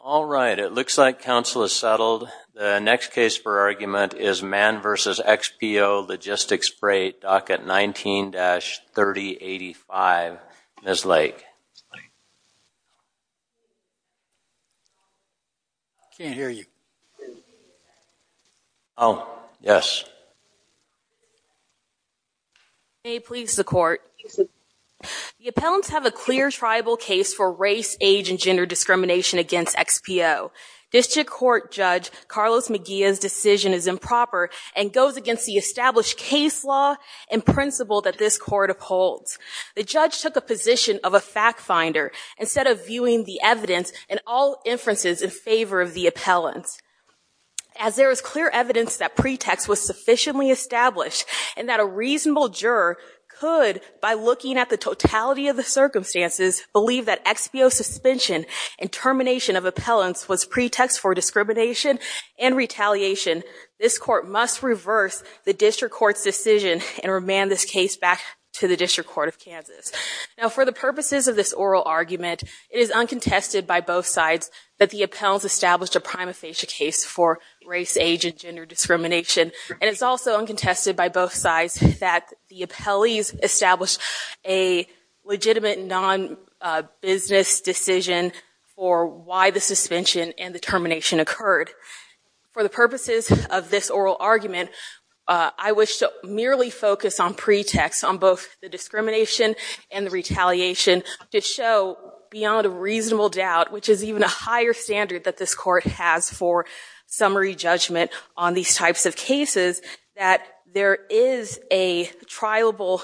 All right. It looks like counsel is settled. The next case for argument is Mann v. XPO Logistics Freight, docket 19-3085. Ms. Lake. Can't hear you. Oh, yes. May it please the court. The appellants have a clear tribal case for race, age, and gender discrimination against XPO. District Court Judge Carlos Mejia's decision is improper and goes against the established case law and principle that this court upholds. The judge took a position of a fact finder instead of viewing the evidence and all inferences in favor of the appellants. As there is clear evidence that pretext was sufficiently established and that a reasonable juror could, by looking at the totality of the circumstances, believe that XPO suspension and termination of appellants was pretext for discrimination and retaliation, this court must reverse the district court's decision and remand this case back to the District Court of Kansas. Now, for the purposes of this oral argument, it is uncontested by both sides that the appellants established a prima facie case for race, age, and gender discrimination. And it's also uncontested by both sides that the appellees established a legitimate non-business decision for why the suspension and the termination occurred. For the purposes of this oral argument, I wish to merely focus on pretext on both the discrimination and the retaliation to show, beyond a reasonable doubt, which is even a higher standard that this court has for summary judgment on these types of cases, that there is a trialable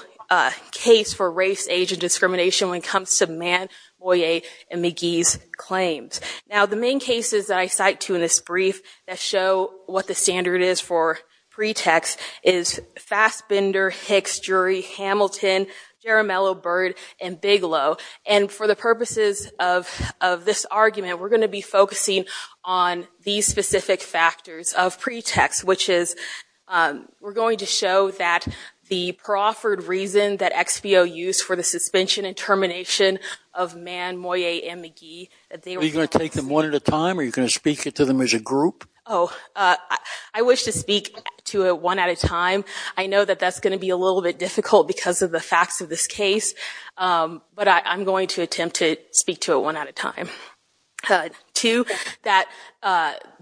case for race, age, and discrimination when it comes to Mann, Moyet, and McGee's claims. Now, the main cases that I cite to in this brief that show what the standard is for pretext is Fassbender, Hicks, Drury, Hamilton, Jaramillo, Byrd, and Bigelow. And for the purposes of this argument, we're going to be focusing on these specific factors of pretext, which is we're going to show that the proffered reason that XBO used for the suspension and termination of Mann, Moyet, and McGee, that they were false. Are you going to take them one at a time? Are you going to speak to them as a group? Oh, I wish to speak to it one at a time. I know that that's going to be a little bit difficult because of the facts of this case. But I'm going to attempt to speak to it one at a time. Two, that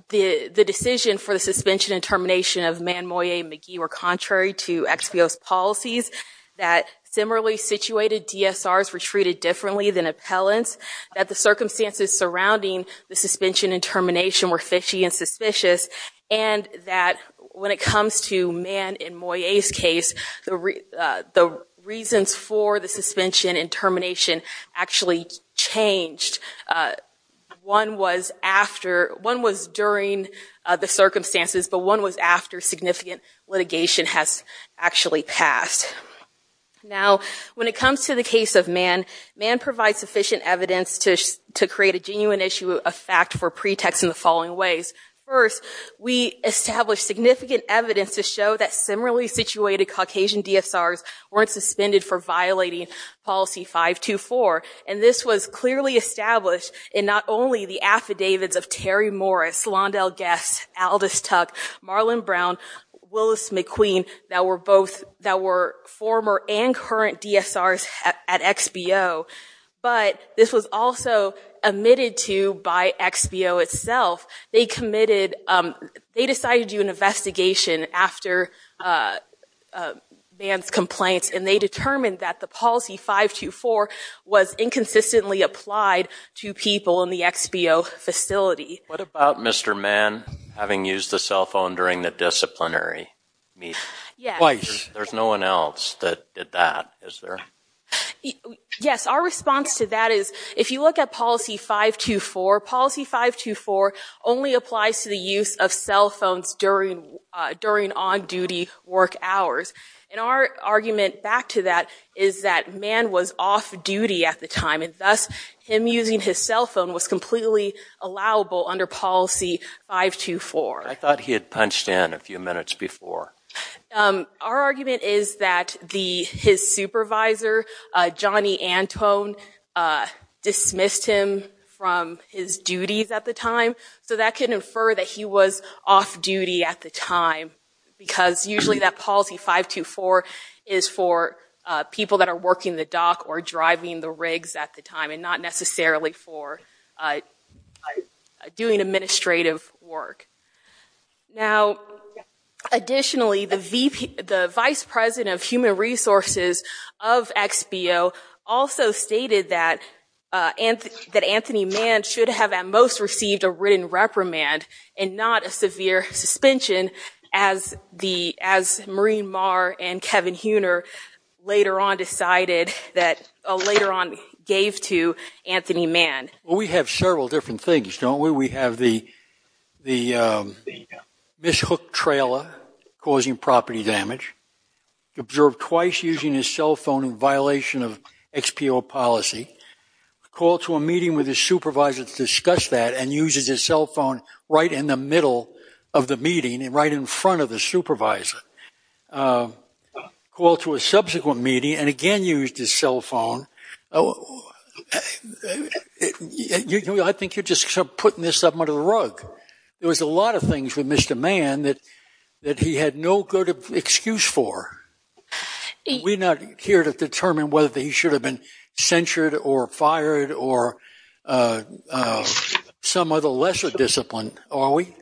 the decision for the suspension and termination of Mann, Moyet, and McGee were contrary to XBO's policies, that similarly situated DSRs were treated differently than appellants, that the circumstances surrounding the suspension and termination were fishy and suspicious, and that when it comes to Mann and Moyet's case, the reasons for the suspension and termination actually changed. One was during the circumstances, but one was after significant litigation has actually passed. Now, when it comes to the case of Mann, Mann provides sufficient evidence to create a genuine issue of fact for pretext in the following ways. First, we established significant evidence to show that similarly situated Caucasian DSRs weren't suspended for violating policy 524. And this was clearly established in not only the affidavits of Terry Morris, Londell Guess, Aldous Tuck, Marlon Brown, Willis McQueen, that were former and current DSRs at XBO, but this was also admitted to by XBO itself. They committed, they decided to do an investigation after Mann's complaints, and they determined that the policy 524 was inconsistently applied to people in the XBO facility. What about Mr. Mann having used the cell phone during the disciplinary meeting? Twice. There's no one else that did that, is there? Yes, our response to that is, if you look at policy 524, policy 524 only applies to the use of cell phones during on-duty work hours. And our argument back to that is that Mann was off duty at the time, and thus him using his cell phone was completely allowable under policy 524. I thought he had punched in a few minutes before. Our argument is that his supervisor, Johnny Antone, dismissed him from his duties at the time. So that can infer that he was off duty at the time, because usually that policy 524 is for people that are working the dock or driving the rigs at the time, and not necessarily for doing administrative work. Now, additionally, the vice president of human resources of XBO also stated that Anthony Mann should have at most received a written reprimand, and not a severe suspension, as Maureen Marr and Kevin Huener later on gave to Anthony Mann. We have several different things, don't we? We have the mishooked trailer causing property damage, observed twice using his cell phone in violation of XBO policy, called to a meeting with his supervisor to discuss that, and uses his cell phone right in the middle of the meeting, and right in front of the supervisor. Called to a subsequent meeting, and again used his cell phone. I think you're just putting this up under the rug. There was a lot of things with Mr. Mann that he had no good excuse for. We're not here to determine whether he should have been censured, or fired, or some other lesser discipline, are we?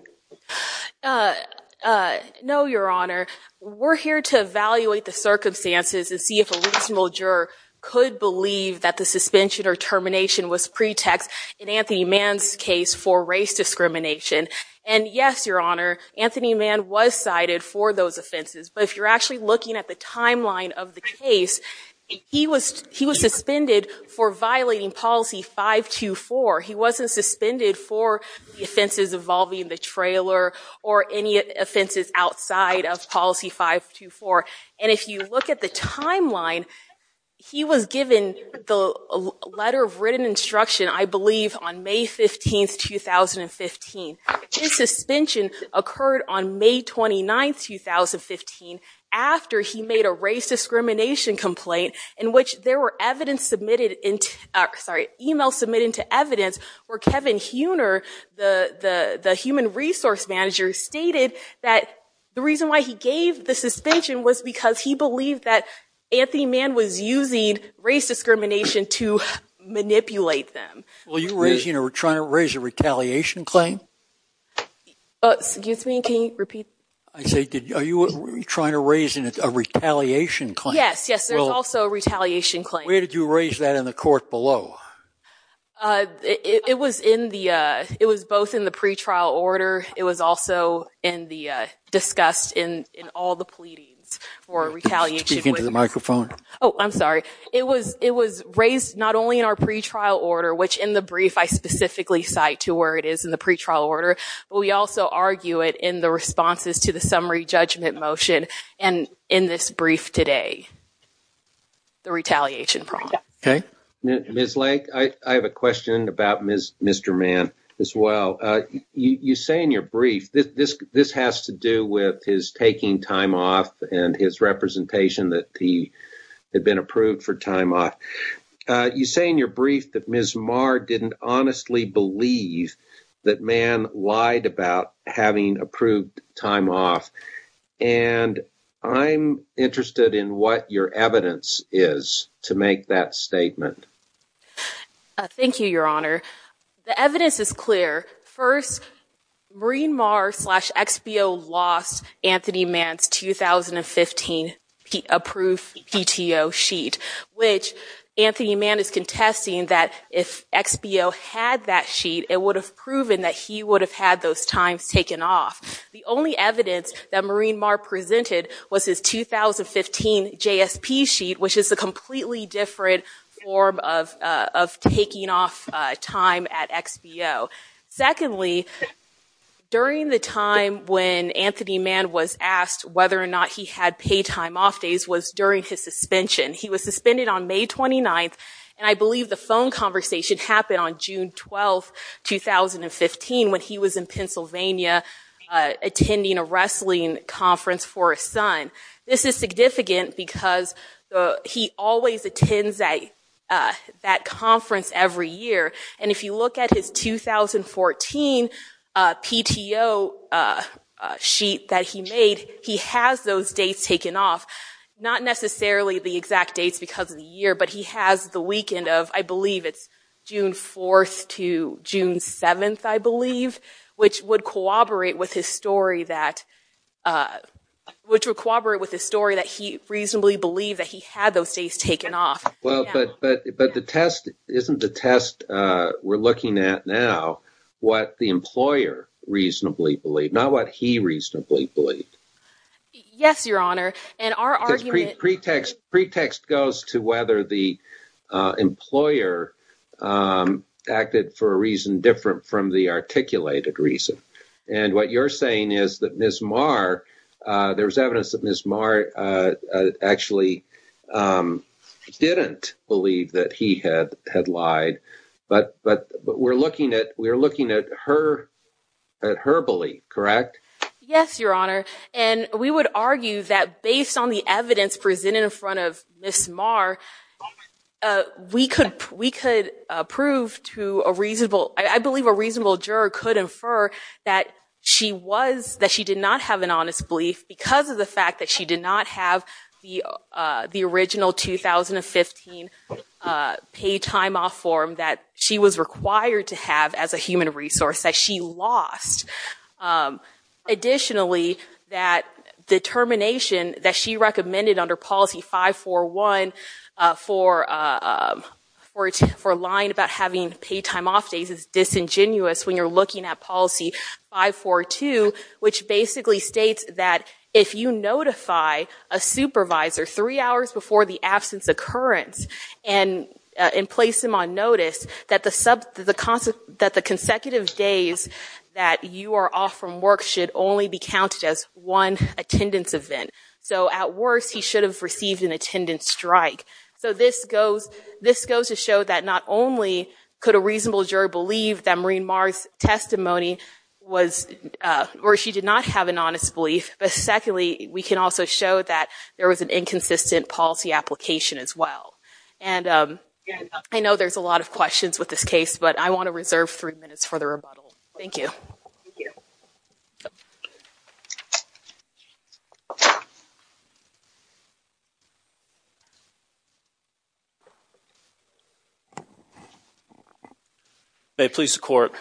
No, Your Honor. We're here to evaluate the circumstances and see if a reasonable juror could believe that the suspension or termination was pretext in Anthony Mann's case for race discrimination. And yes, Your Honor, Anthony Mann was cited for those offenses. But if you're actually looking at the timeline of the case, he was suspended for violating policy 524. He wasn't suspended for offenses involving the trailer, or any offenses outside of policy 524. And if you look at the timeline, he was given the letter of written instruction, I believe, on May 15, 2015. His suspension occurred on May 29, 2015, after he made a race discrimination complaint, in which there were email submitted into evidence where Kevin Huener, the human resource manager, stated that the reason why he gave the suspension was because he believed that Anthony Mann was using race discrimination to manipulate them. Well, you were trying to raise a retaliation claim? Excuse me, can you repeat? I say, are you trying to raise a retaliation claim? Yes, yes, there's also a retaliation claim. Where did you raise that in the court below? It was both in the pretrial order. It was also discussed in all the pleadings for retaliation. Speak into the microphone. Oh, I'm sorry. It was raised not only in our pretrial order, which in the brief I specifically cite to where it is in the pretrial order, but we also argue it in the responses to the summary judgment motion and in this brief today, the retaliation problem. Ms. Lake, I have a question about Mr. Mann as well. You say in your brief, this has to do with his taking time off and his representation that he had been approved for time off. You say in your brief that Ms. Maher didn't honestly believe that Mann lied about having approved time off. And I'm interested in what your evidence is to make that statement. Thank you, Your Honor. The evidence is clear. First, Marine Marr slash XBO lost Anthony Mann's 2015 approved PTO sheet, which Anthony Mann is contesting that if XBO had that sheet, it would have proven that he would have had those times taken off. The only evidence that Marine Marr presented was his 2015 JSP sheet, which is a completely different form of taking off time at XBO. Secondly, during the time when Anthony Mann was asked whether or not he had paid time off days was during his suspension. He was suspended on May 29. And I believe the phone conversation happened on June 12, 2015, when he was in Pennsylvania attending a wrestling conference for his son. This is significant because he always attends that conference every year. And if you look at his 2014 PTO sheet that he made, he has those dates taken off. Not necessarily the exact dates because of the year, but he has the weekend of, I believe, it's June 4 to June 7, I believe, which would corroborate with his story that he reasonably believed that he had those days taken off. Well, but the test isn't the test we're looking at now, what the employer reasonably believed, not what he reasonably believed. Yes, Your Honor. And our argument is pretext goes to whether the employer acted for a reason different from the articulated reason. And what you're saying is that Ms. Marr, there's evidence that Ms. Marr actually didn't believe that he had lied. But we're looking at her belief, correct? Yes, Your Honor. And we would argue that based on the evidence presented in front of Ms. Marr, we could prove to a reasonable, I believe a reasonable juror could infer that she was, that she did not have an honest belief because of the fact that she did not have the original 2015 paid time off form that she was required to have as a human resource that she lost. Additionally, that determination that she recommended under policy 541 for lying about having paid time off days is disingenuous when you're looking at policy 542, which basically states that if you notify a supervisor three hours before the absence occurrence and place him on notice, that the consecutive days that you are off from work should only be counted as one attendance event. So at worst, he should have received an attendance strike. So this goes to show that not only could a reasonable juror believe that Maureen Marr's testimony was, or she did not have an honest belief, but secondly, we can also show that there was an inconsistent policy application as well. And I know there's a lot of questions with this case, but I want to reserve three minutes for the rebuttal. Thank you. Thank you. May it please the court,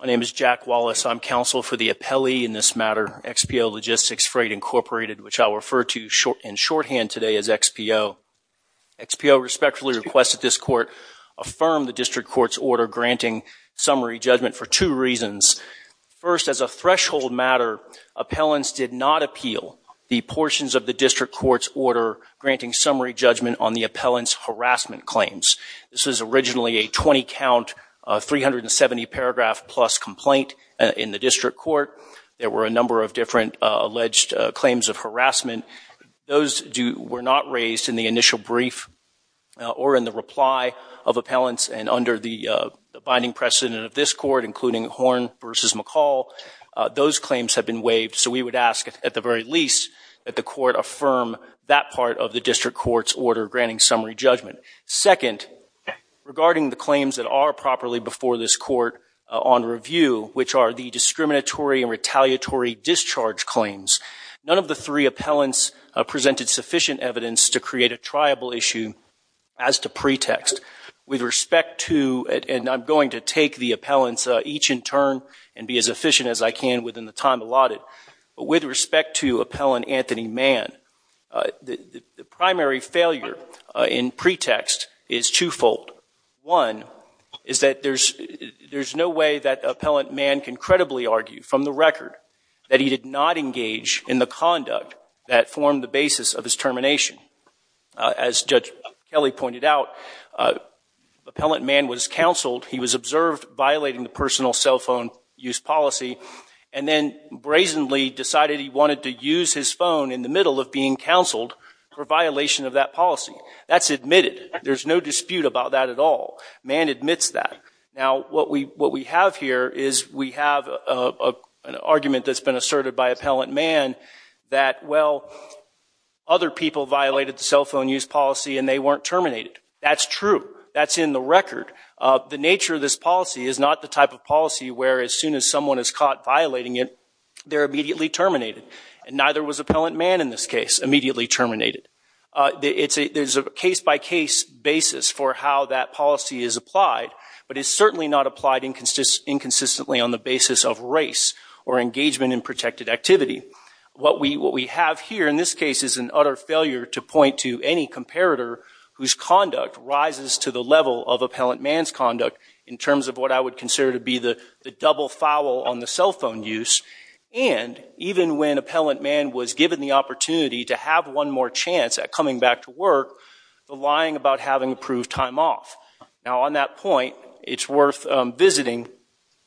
my name is Jack Wallace. I'm counsel for the appellee in this matter, XPO Logistics Freight Incorporated, which I'll refer to in shorthand today as XPO. XPO respectfully requests that this court affirm the district court's order granting summary judgment for two reasons. First, as a threshold matter, appellants did not appeal the portions of the district court's order granting summary judgment on the appellant's harassment claims. This was originally a 20 count, 370 paragraph plus complaint in the district court. There were a number of different alleged claims of harassment. Those were not raised in the initial brief or in the reply of appellants. And under the binding precedent of this court, including Horn versus McCall, those claims have been waived. So we would ask, at the very least, that the court affirm that part of the district court's order granting summary judgment. Second, regarding the claims that are properly before this court on review, which are the discriminatory and retaliatory discharge claims, none of the three appellants presented sufficient evidence to create a triable issue as to pretext. With respect to, and I'm going to take the appellants each in turn and be as efficient as I can within the time allotted, but with respect to Appellant Anthony Mann, the primary failure in pretext is twofold. One is that there's no way that Appellant Mann can credibly argue from the record that he did not engage in the conduct that formed the basis of his termination. As Judge Kelly pointed out, Appellant Mann was counseled. He was observed violating the personal cell phone use policy, and then brazenly decided he wanted to use his phone in the middle of being counseled for violation of that policy. That's admitted. There's no dispute about that at all. Mann admits that. Now, what we have here is we have an argument that's been asserted by Appellant Mann that, well, other people violated the cell phone use policy and they weren't terminated. That's true. That's in the record. The nature of this policy is not the type of policy where, as soon as someone is caught violating it, they're immediately terminated. And neither was Appellant Mann in this case immediately terminated. There's a case-by-case basis for how that policy is applied, but it's certainly not applied inconsistently on the basis of race or engagement in protected activity. What we have here in this case is an utter failure to point to any comparator whose conduct rises to the level of Appellant Mann's conduct in terms of what I would consider to be the double foul on the cell phone use. And even when Appellant Mann was given the opportunity to have one more chance at coming back to work, the lying about having approved time off. Now, on that point, it's worth visiting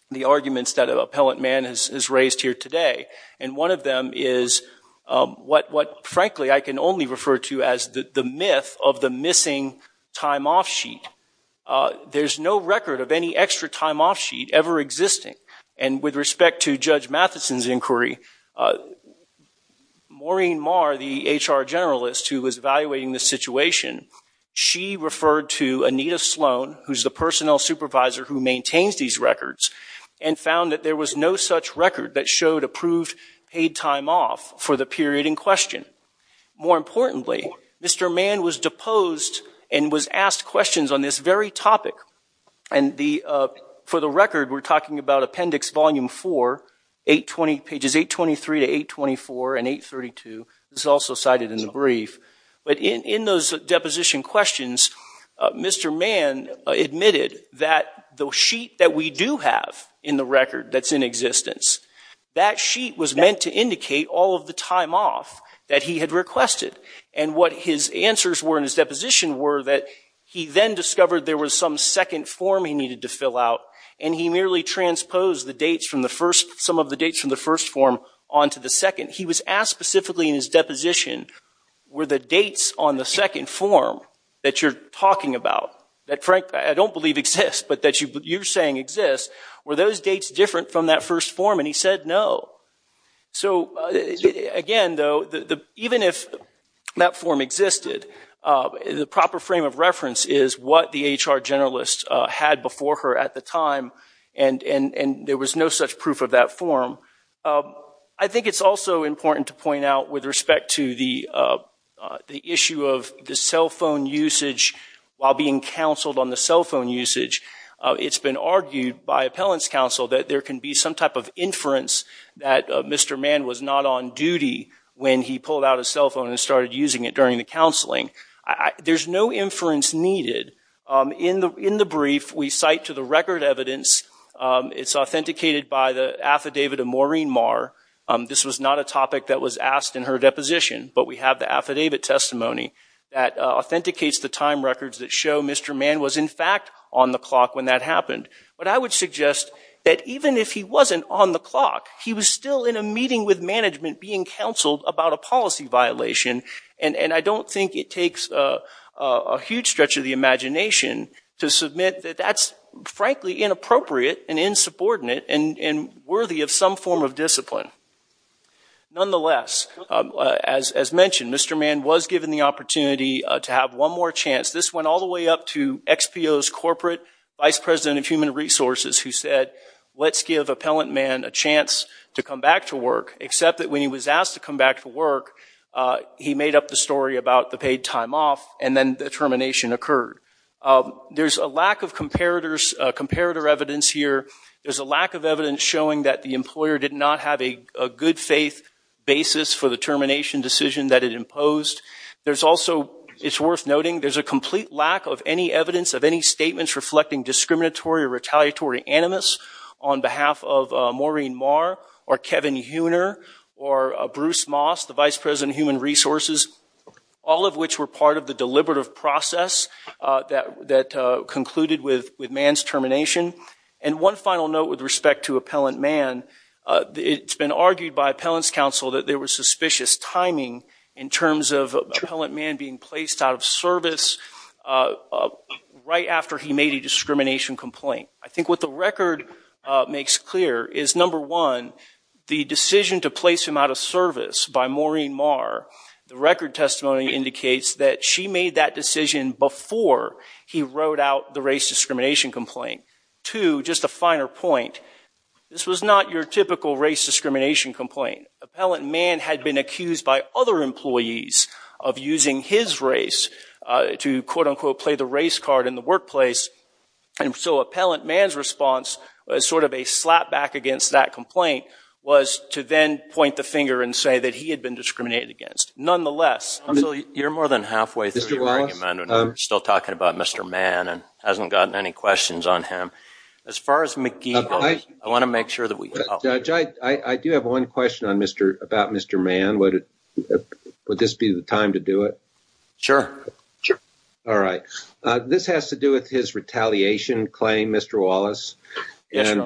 the arguments that Appellant Mann has raised here today. And one of them is what, frankly, I can only refer to as the myth of the missing time off sheet. There's no record of any extra time off sheet ever existing. And with respect to Judge Matheson's inquiry, Maureen Marr, the HR generalist who was evaluating the situation, she referred to Anita Sloan, who's the personnel supervisor who maintains these records, and found that there was no such record that showed approved paid time off for the period in question. More importantly, Mr. Mann was deposed and was asked questions on this very topic. And for the record, we're talking about Appendix Volume 4, pages 823 to 824 and 832. This is also cited in the brief. But in those deposition questions, Mr. Mann admitted that the sheet that we do have in the record that's in existence, that sheet was that he had requested. And what his answers were in his deposition were that he then discovered there was some second form he needed to fill out, and he merely transposed some of the dates from the first form onto the second. He was asked specifically in his deposition, were the dates on the second form that you're talking about, that, Frank, I don't believe exists, but that you're saying exists, were those dates different from that first form? And he said no. So again, though, even if that form existed, the proper frame of reference is what the HR generalist had before her at the time, and there was no such proof of that form. I think it's also important to point out with respect to the issue of the cell phone usage while being counseled on the cell phone usage, it's been argued by appellants counsel that there can be some type of inference that Mr. Mann was not on duty when he pulled out a cell phone and started using it during the counseling. There's no inference needed. In the brief, we cite to the record evidence. It's authenticated by the affidavit of Maureen Marr. This was not a topic that was asked in her deposition, but we have the affidavit testimony that authenticates the time records that show Mr. Mann was, in fact, on the clock when that happened. But I would suggest that even if he wasn't on the clock, he was still in a meeting with management being counseled about a policy violation. And I don't think it takes a huge stretch of the imagination to submit that that's, frankly, inappropriate and insubordinate and worthy of some form of discipline. Nonetheless, as mentioned, Mr. Mann was given the opportunity to have one more chance. This went all the way up to XPO's corporate vice president of human resources who said, let's give appellant Mann a chance to come back to work, except that when he was asked to come back to work, he made up the story about the paid time off, and then the termination occurred. There's a lack of comparator evidence here. There's a lack of evidence showing that the employer did not have a good faith basis for the termination decision that it imposed. There's also, it's worth noting, there's a complete lack of any evidence of any statements reflecting discriminatory or retaliatory animus on behalf of Maureen Marr or Kevin Heuner or Bruce Moss, the vice president of human resources, all of which were part of the deliberative process that concluded with Mann's termination. And one final note with respect to appellant Mann, it's been argued by appellant's counsel that there was suspicious timing in terms of appellant Mann being placed out of service right after he made a discrimination complaint. I think what the record makes clear is, number one, the decision to place him out of service by Maureen Marr, the record testimony indicates that she made that decision before he wrote out the race discrimination complaint. Two, just a finer point, this was not your typical race discrimination complaint. Appellant Mann had been accused by other employees of using his race to, quote unquote, play the race card in the workplace. And so appellant Mann's response was sort of a slap back against that complaint was to then point the finger and say that he had been discriminated against. Nonetheless, you're more than halfway through your argument. We're still talking about Mr. Mann and hasn't gotten any questions on him. As far as McGee goes, I want to make sure that we help. I do have one question about Mr. Mann. Would this be the time to do it? Sure. All right. This has to do with his retaliation claim, Mr. Wallace. And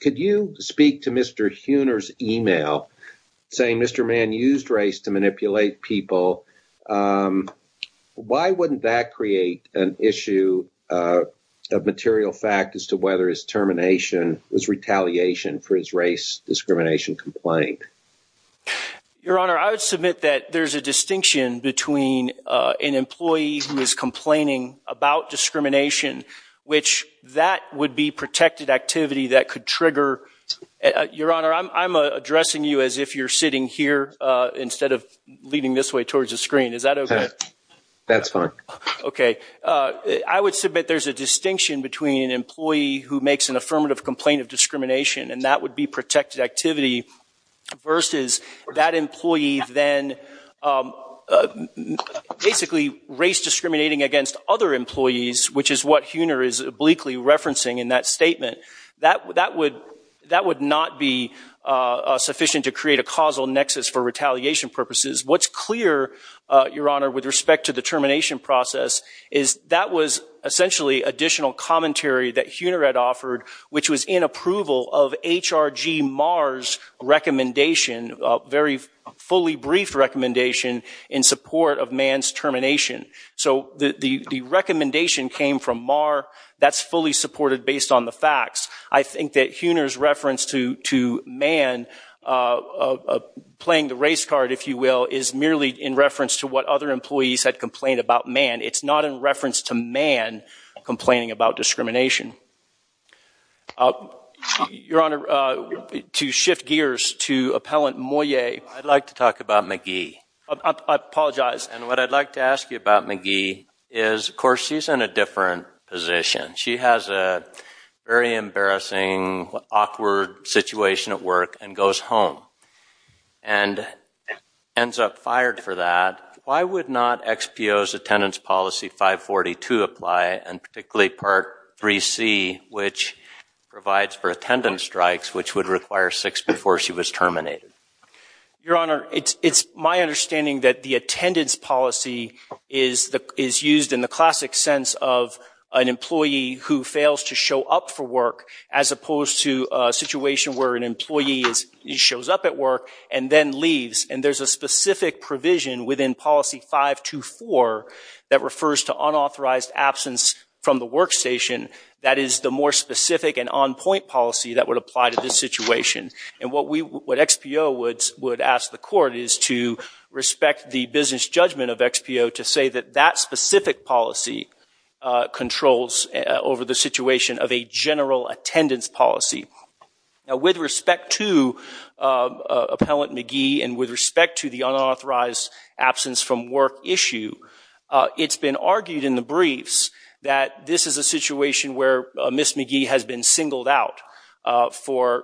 could you speak to Mr. Huener's email saying Mr. Mann used race to manipulate people? Why wouldn't that create an issue of material fact as to whether his termination was retaliation for his race discrimination complaint? Your Honor, I would submit that there's a distinction between an employee who is complaining about discrimination, which that would be protected activity that could trigger. Your Honor, I'm addressing you as if you're sitting here instead of leaning this way towards the screen. Is that OK? That's fine. OK. I would submit there's a distinction between an employee who makes an affirmative complaint of discrimination, and that would be protected activity, versus that employee then basically race discriminating against other employees, which is what Huener is obliquely referencing in that statement. That would not be sufficient to create a causal nexus for retaliation purposes. What's clear, Your Honor, with respect to the termination process is that was essentially additional commentary that Huener had offered, which was in approval of HRG Marr's recommendation, very fully brief recommendation, in support of Mann's termination. So the recommendation came from Marr. That's fully supported based on the facts. I think that Huener's reference to Mann playing the race card, if you will, is merely in reference to what other employees had complained about Mann. It's not in reference to Mann complaining about discrimination. Your Honor, to shift gears to Appellant Moyet. I'd like to talk about McGee. I apologize. And what I'd like to ask you about McGee is, of course, she's in a different position. She has a very embarrassing, awkward situation at work and goes home and ends up fired for that. Why would not XPO's attendance policy 542 apply, and particularly part 3C, which provides for attendance strikes, which would require six before she was terminated? Your Honor, it's my understanding that the attendance policy is used in the classic sense of an employee who fails to show up for work, as opposed to a situation where an employee shows up at work and then leaves. And there's a specific provision within policy 524 that refers to unauthorized absence from the workstation that is the more specific and on-point policy that would apply to this situation. And what XPO would ask the court is to respect the business judgment of XPO to say that that specific policy controls over the situation of a general attendance policy. Now, with respect to Appellant McGee and with respect to the unauthorized absence from work issue, it's been argued in the briefs that this is a situation where Ms. McGee has been singled out for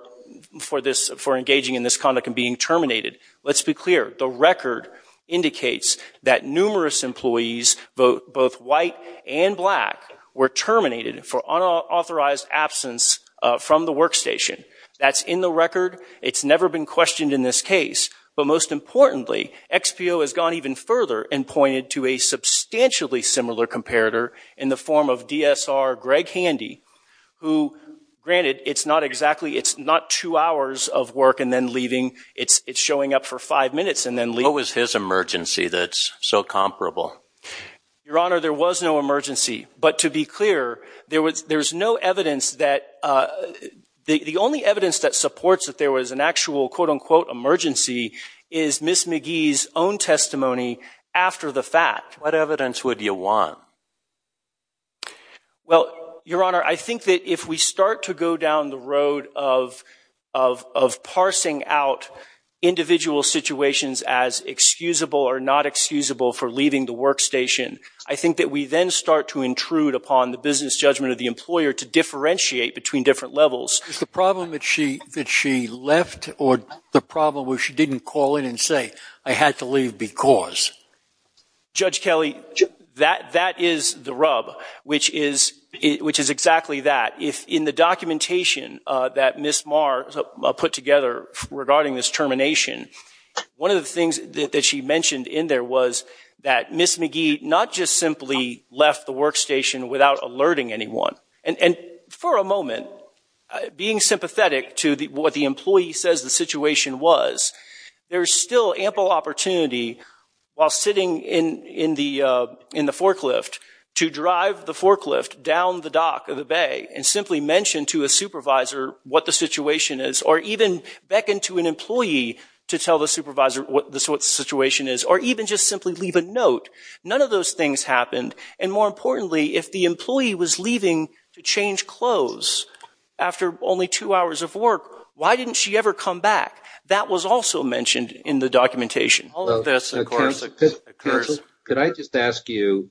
engaging in this conduct and being terminated. Let's be clear. The record indicates that numerous employees, both white and black, were terminated That's in the record. It's never been questioned in this case. But most importantly, XPO has gone even further and pointed to a substantially similar comparator in the form of DSR Greg Handy, who, granted, it's not exactly it's not two hours of work and then leaving. It's showing up for five minutes and then leaving. What was his emergency that's so comparable? Your Honor, there was no emergency. But to be clear, there's no evidence that the only evidence that supports that there was an actual, quote unquote, emergency is Ms. McGee's own testimony after the fact. What evidence would you want? Well, Your Honor, I think that if we start to go down the road of parsing out individual situations as excusable or not excusable for leaving the workstation, I think that we then start to intrude upon the business judgment of the employer to differentiate between different levels. Is the problem that she left or the problem where she didn't call in and say, I had to leave because? Judge Kelly, that is the rub, which is exactly that. If in the documentation that Ms. Marr put together regarding this termination, one of the things that she mentioned in there was that Ms. McGee not just simply left the workstation without alerting anyone. And for a moment, being sympathetic to what the employee says the situation was, there's still ample opportunity while sitting in the forklift to drive the forklift down the dock of the bay and simply mention to a supervisor what the situation is, or even beckon to an employee to tell the supervisor what the situation is, or even just simply leave a note. None of those things happened. And more importantly, if the employee was leaving to change clothes after only two hours of work, why didn't she ever come back? That was also mentioned in the documentation. All of this, of course, occurs. Could I just ask you,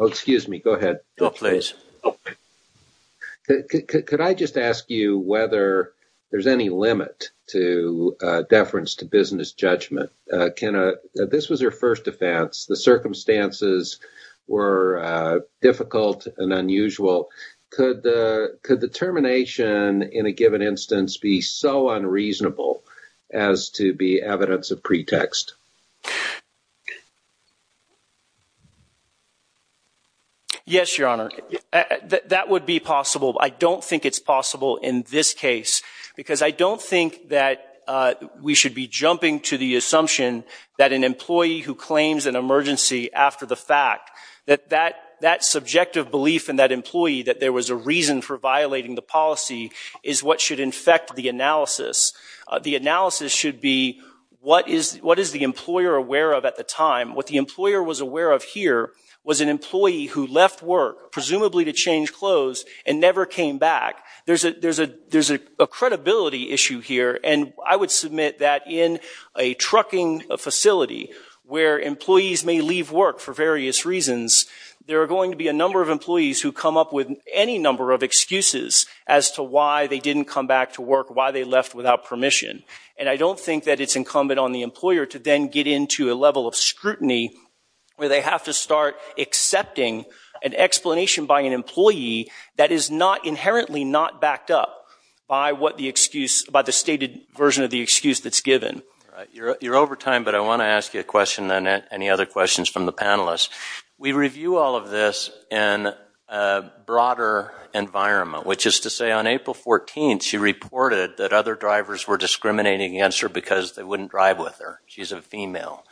excuse me, go ahead. Go ahead, please. Could I just ask you whether there's any limit to deference to business judgment? This was her first offense. The circumstances were difficult and unusual. Could the termination in a given instance be so unreasonable as to be evidence of pretext? Yes, Your Honor. That would be possible. I don't think it's possible in this case because I don't think that we should be jumping to the assumption that an employee who claims an emergency after the fact, that that subjective belief in that employee that there was a reason for violating the policy is what should infect the analysis. The analysis should be, what is the employer aware of at the time? What the employer was aware of here was an employee who left work, presumably to change clothes, and never came back. There's a credibility issue here. And I would submit that in a trucking facility where employees may leave work for various reasons, there are going to be a number of employees who come up with any number of excuses as to why they didn't come back to work, why they left without permission. And I don't think that it's incumbent on the employer to then get into a level of scrutiny where they have to start accepting an explanation by an employee that is inherently not backed up by the stated version of the excuse that's given. You're over time, but I want to ask you a question and any other questions from the panelists. We review all of this in a broader environment, which is to say on April 14, she reported that other drivers were discriminating against her because they wouldn't drive with her. She's a female.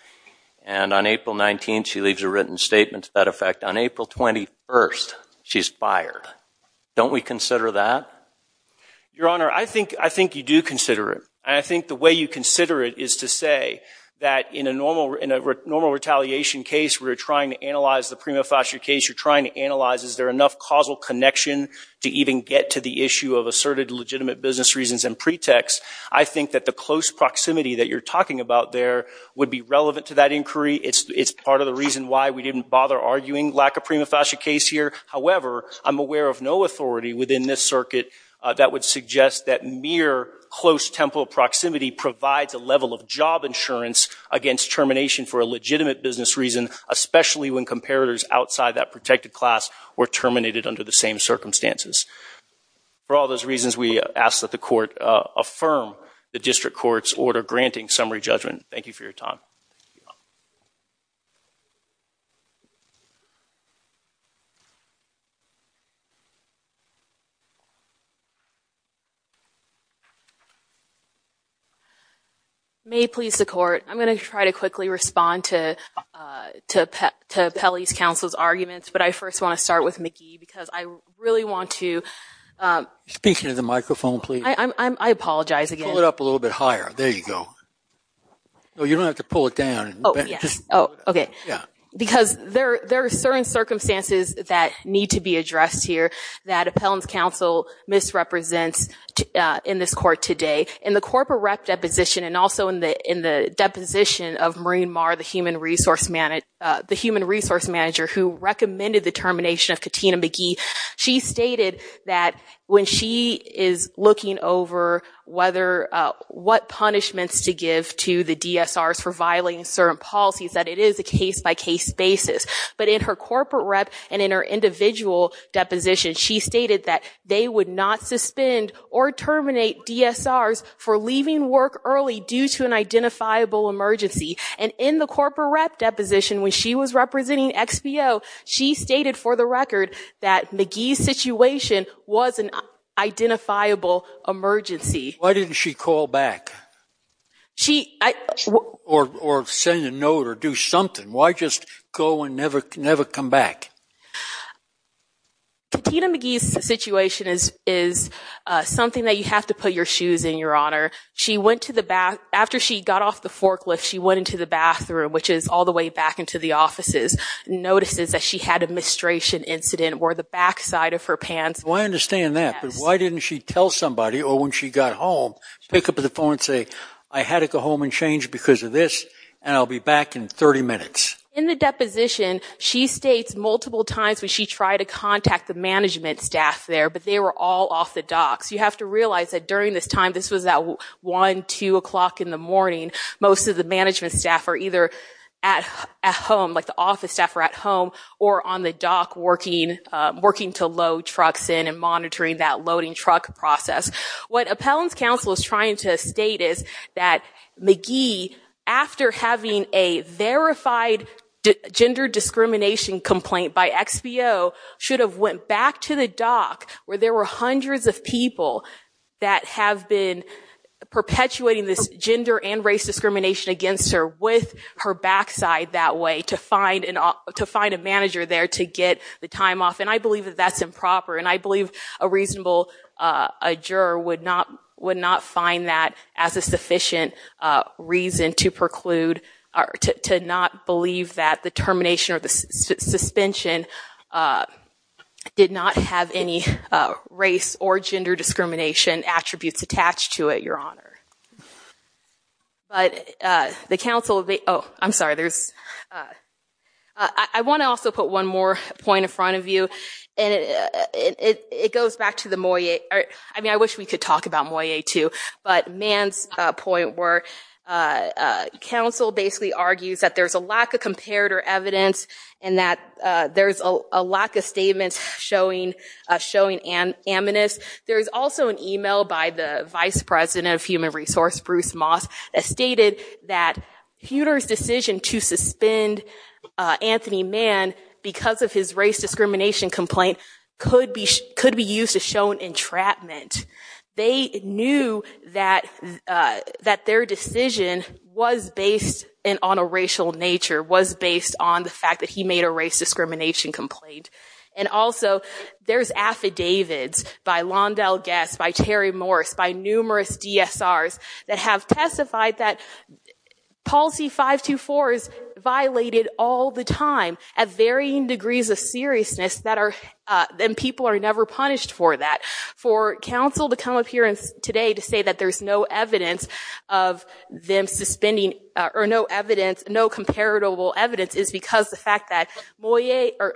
And on April 19, she leaves a written statement to that effect. On April 21, she's fired. Don't we consider that? Your Honor, I think you do consider it. And I think the way you consider it is to say that in a normal retaliation case, we're trying to analyze the prima facie case. You're trying to analyze, is there enough causal connection to even get to the issue of asserted legitimate business reasons and pretext? I think that the close proximity that you're talking about there would be relevant to that inquiry. It's part of the reason why we didn't bother arguing lack of prima facie case here. However, I'm aware of no authority within this circuit that would suggest that mere close temple proximity provides a level of job insurance against termination for a legitimate business reason, especially when comparators outside that protected class were terminated under the same circumstances. For all those reasons, we ask that the court affirm the district court's order granting summary judgment. Thank you for your time. May it please the court, I'm going to try to quickly respond to Appellee's counsel's arguments. But I first want to start with Mickey, because I really want to. Speaking of the microphone, please. I apologize again. Pull it up a little bit higher. There you go. No, you don't have to pull it down. Oh, yes. Oh, OK. Yeah. Because there are certain circumstances that need to be addressed here that Appellant's counsel misrepresents in this court today. In the corporate rep deposition, and also in the deposition of Maureen Marr, the human resource manager who recommended the termination of Katina McGee, she stated that when she is looking over what punishments to give to the DSRs for violating certain policies, that it is a case-by-case basis. But in her corporate rep and in her individual deposition, she stated that they would not suspend or terminate DSRs for leaving work early due to an identifiable emergency. And in the corporate rep deposition, when she was representing XBO, she stated for the record that McGee's situation was an identifiable emergency. Why didn't she call back or send a note or do something? Why just go and never come back? Katina McGee's situation is something that you have to put your shoes in, Your Honor. She went to the bath. After she got off the forklift, she went into the bathroom, which is all the way back into the offices, notices that she had a mistration incident or the backside of her pants. I understand that. But why didn't she tell somebody, or when she got home, pick up the phone and say, I had to go home and change because of this, and I'll be back in 30 minutes. In the deposition, she states multiple times when she tried to contact the management staff there, but they were all off the docks. You have to realize that during this time, this was at 1, 2 o'clock in the morning. Most of the management staff are either at home, like the office staff are at home, or on the dock working to load trucks in and monitoring that loading truck process. What Appellant's counsel is trying to state is that McGee, after having a verified gender discrimination complaint by XBO, should have went back to the dock where there were hundreds of people that have been perpetuating this gender and race discrimination against her with her backside that way to find a manager there to get the time off. And I believe that that's improper. And I believe a reasonable juror would not find that as a sufficient reason to preclude, to not believe that the termination or the suspension did not have any race or gender discrimination attributes attached to it, Your Honor. But the counsel of the, oh, I'm sorry. I want to also put one more point in front of you. And it goes back to the Moyet. I mean, I wish we could talk about Moyet, too. But Mann's point where counsel basically argues that there's a lack of comparator evidence and that there's a lack of statements showing amnesty. There is also an email by the vice president of Human Resource, Bruce Moss, that stated that Huter's decision to suspend Anthony Mann because of his race discrimination complaint could be used to show an entrapment. They knew that their decision was based on a racial nature, was based on the fact that he made a race discrimination complaint. And also, there's affidavits by Londell Guess, by Terry Morris, by numerous DSRs that have testified that policy 524 is violated all the time at varying degrees of seriousness. And people are never punished for that. For counsel to come up here today to say that there's no evidence of them suspending or no evidence, no comparable evidence, is because the fact that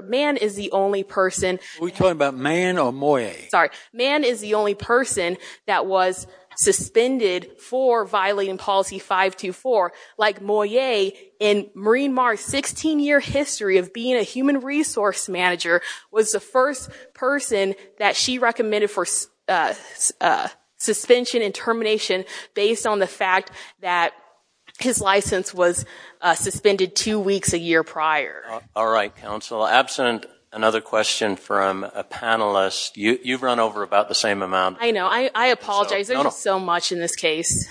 Mann is the only person. Are we talking about Mann or Moyet? Sorry. Mann is the only person that was suspended for violating policy 524. Like Moyet, in Marine Mars' 16-year history of being a human resource manager, was the first person that she recommended for suspension and termination based on the fact that his license was suspended two weeks a year prior. All right, counsel. Absent another question from a panelist, you've run over about the same amount. I know. I apologize. There's so much in this case.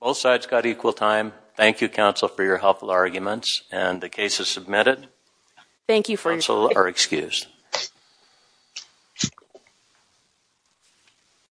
Both sides got equal time. Thank you, counsel, for your helpful arguments. And the case is submitted. Thank you for your time.